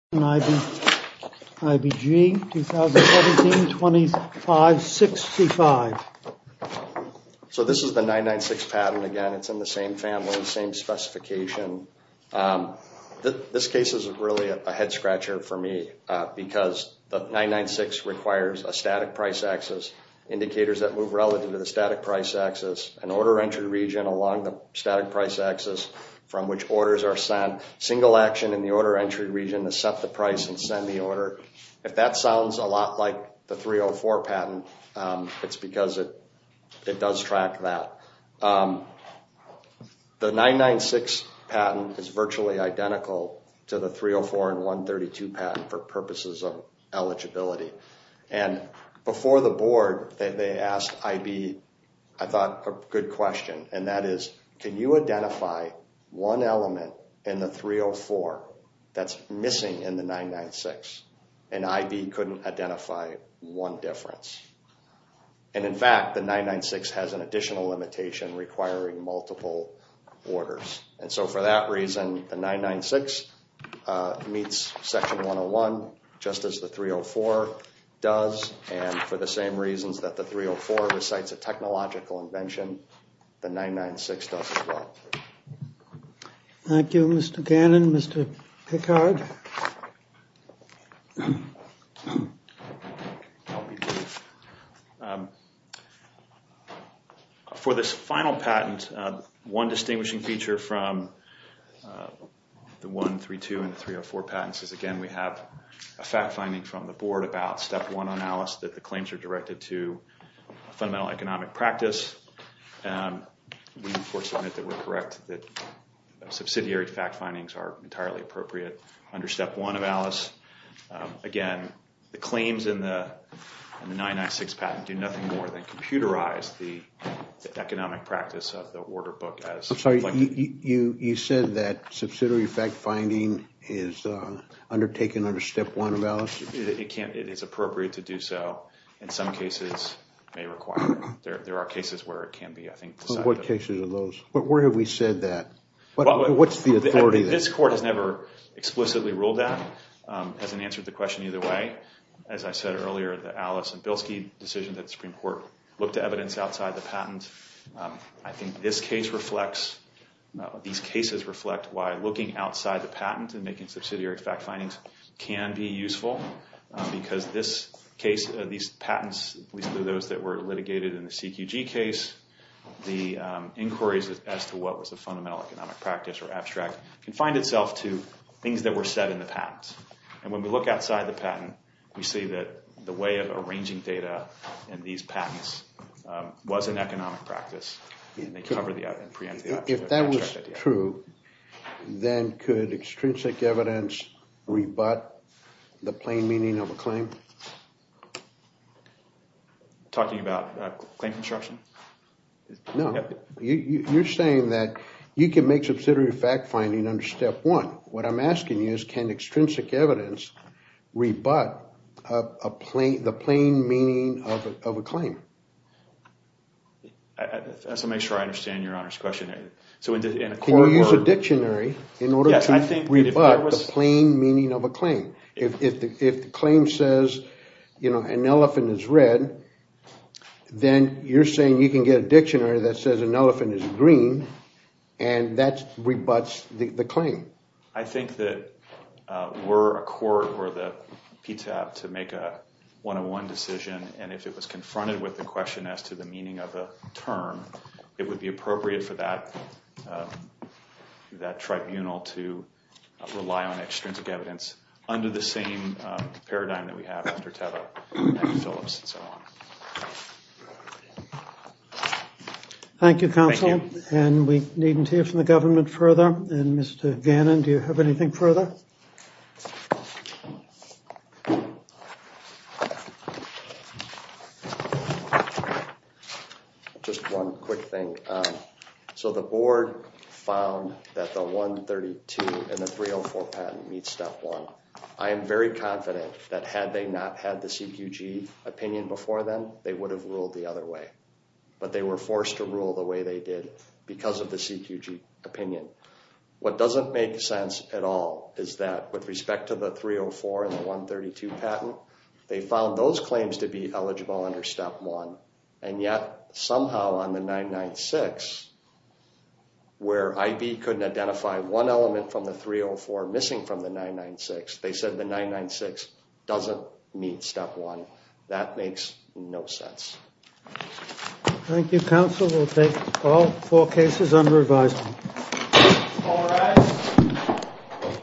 IBG 2017 2565. So this is the 996 patent again it's in the same family and same specification. This case is really a head-scratcher for me because the 996 requires a static price axis, indicators that move relative to the static price axis, an order entry region along the static price axis from which orders are sent. Single action in the order entry region to set the price and send the order. If that sounds a lot like the 304 patent it's because it it does track that. The 996 patent is virtually identical to the 304 and 132 patent for purposes of eligibility. And before the board they asked IB I thought a good question and that is can you identify one element in the 304 that's missing in the 996 and IB couldn't identify one difference. And in fact the 996 has an additional limitation requiring multiple orders and so for that reason the 996 meets section 101 just as the 304 does and for the same reasons that the 304 recites a technological invention the 996 does as well. Thank You Mr. Gannon, Mr. Pickard. For this final patent one distinguishing feature from the 132 and 304 patents is again we have a fact-finding from the board about step one analysis that the mental economic practice. We report that we're correct that subsidiary fact findings are entirely appropriate under step one of Alice. Again the claims in the 996 patent do nothing more than computerized the economic practice of the order book. I'm sorry you you said that subsidiary fact-finding is undertaken under step one of Alice? It can't it is appropriate to do so in some cases may require. There are cases where it can be I think. What cases are those? Where have we said that? What's the authority? This court has never explicitly ruled that as an answer to the question either way. As I said earlier the Alice and Bilski decision that the Supreme Court looked at evidence outside the patent. I think this case reflects these cases reflect why looking outside the patent and making subsidiary fact findings can be useful because this case these patents, those that were litigated in the CQG case, the inquiries as to what was a fundamental economic practice or abstract can find itself to things that were said in the patent. And when we look outside the patent we see that the way of arranging data and these patents was an economic practice and they cover the other. If that was true then could extrinsic evidence rebut the talking about claim construction? No, you're saying that you can make subsidiary fact-finding under step one. What I'm asking you is can extrinsic evidence rebut the plain meaning of a claim? So make sure I understand your Honor's question. Can you use a dictionary in order to rebut the plain meaning of a claim? If the claim says you know an elephant is red then you're saying you can get a dictionary that says an elephant is green and that rebuts the claim. I think that were a court or the PTAB to make a one-on-one decision and if it was confronted with the question as to the meaning of a term it would be appropriate for that tribunal to rely on extrinsic evidence under the same paradigm that we have after Teva and Phillips and so on. Thank you counsel and we needn't hear from the quick thing. So the board found that the 132 and the 304 patent meets step one. I am very confident that had they not had the CQG opinion before then they would have ruled the other way but they were forced to rule the way they did because of the CQG opinion. What doesn't make sense at all is that with respect to the 304 and the 132 patent they found those claims to be eligible under step one and yet somehow on the 996 where I.B. couldn't identify one element from the 304 missing from the 996 they said the 996 doesn't meet step one. That makes no sense. Thank you counsel. We'll take all four cases under advisory.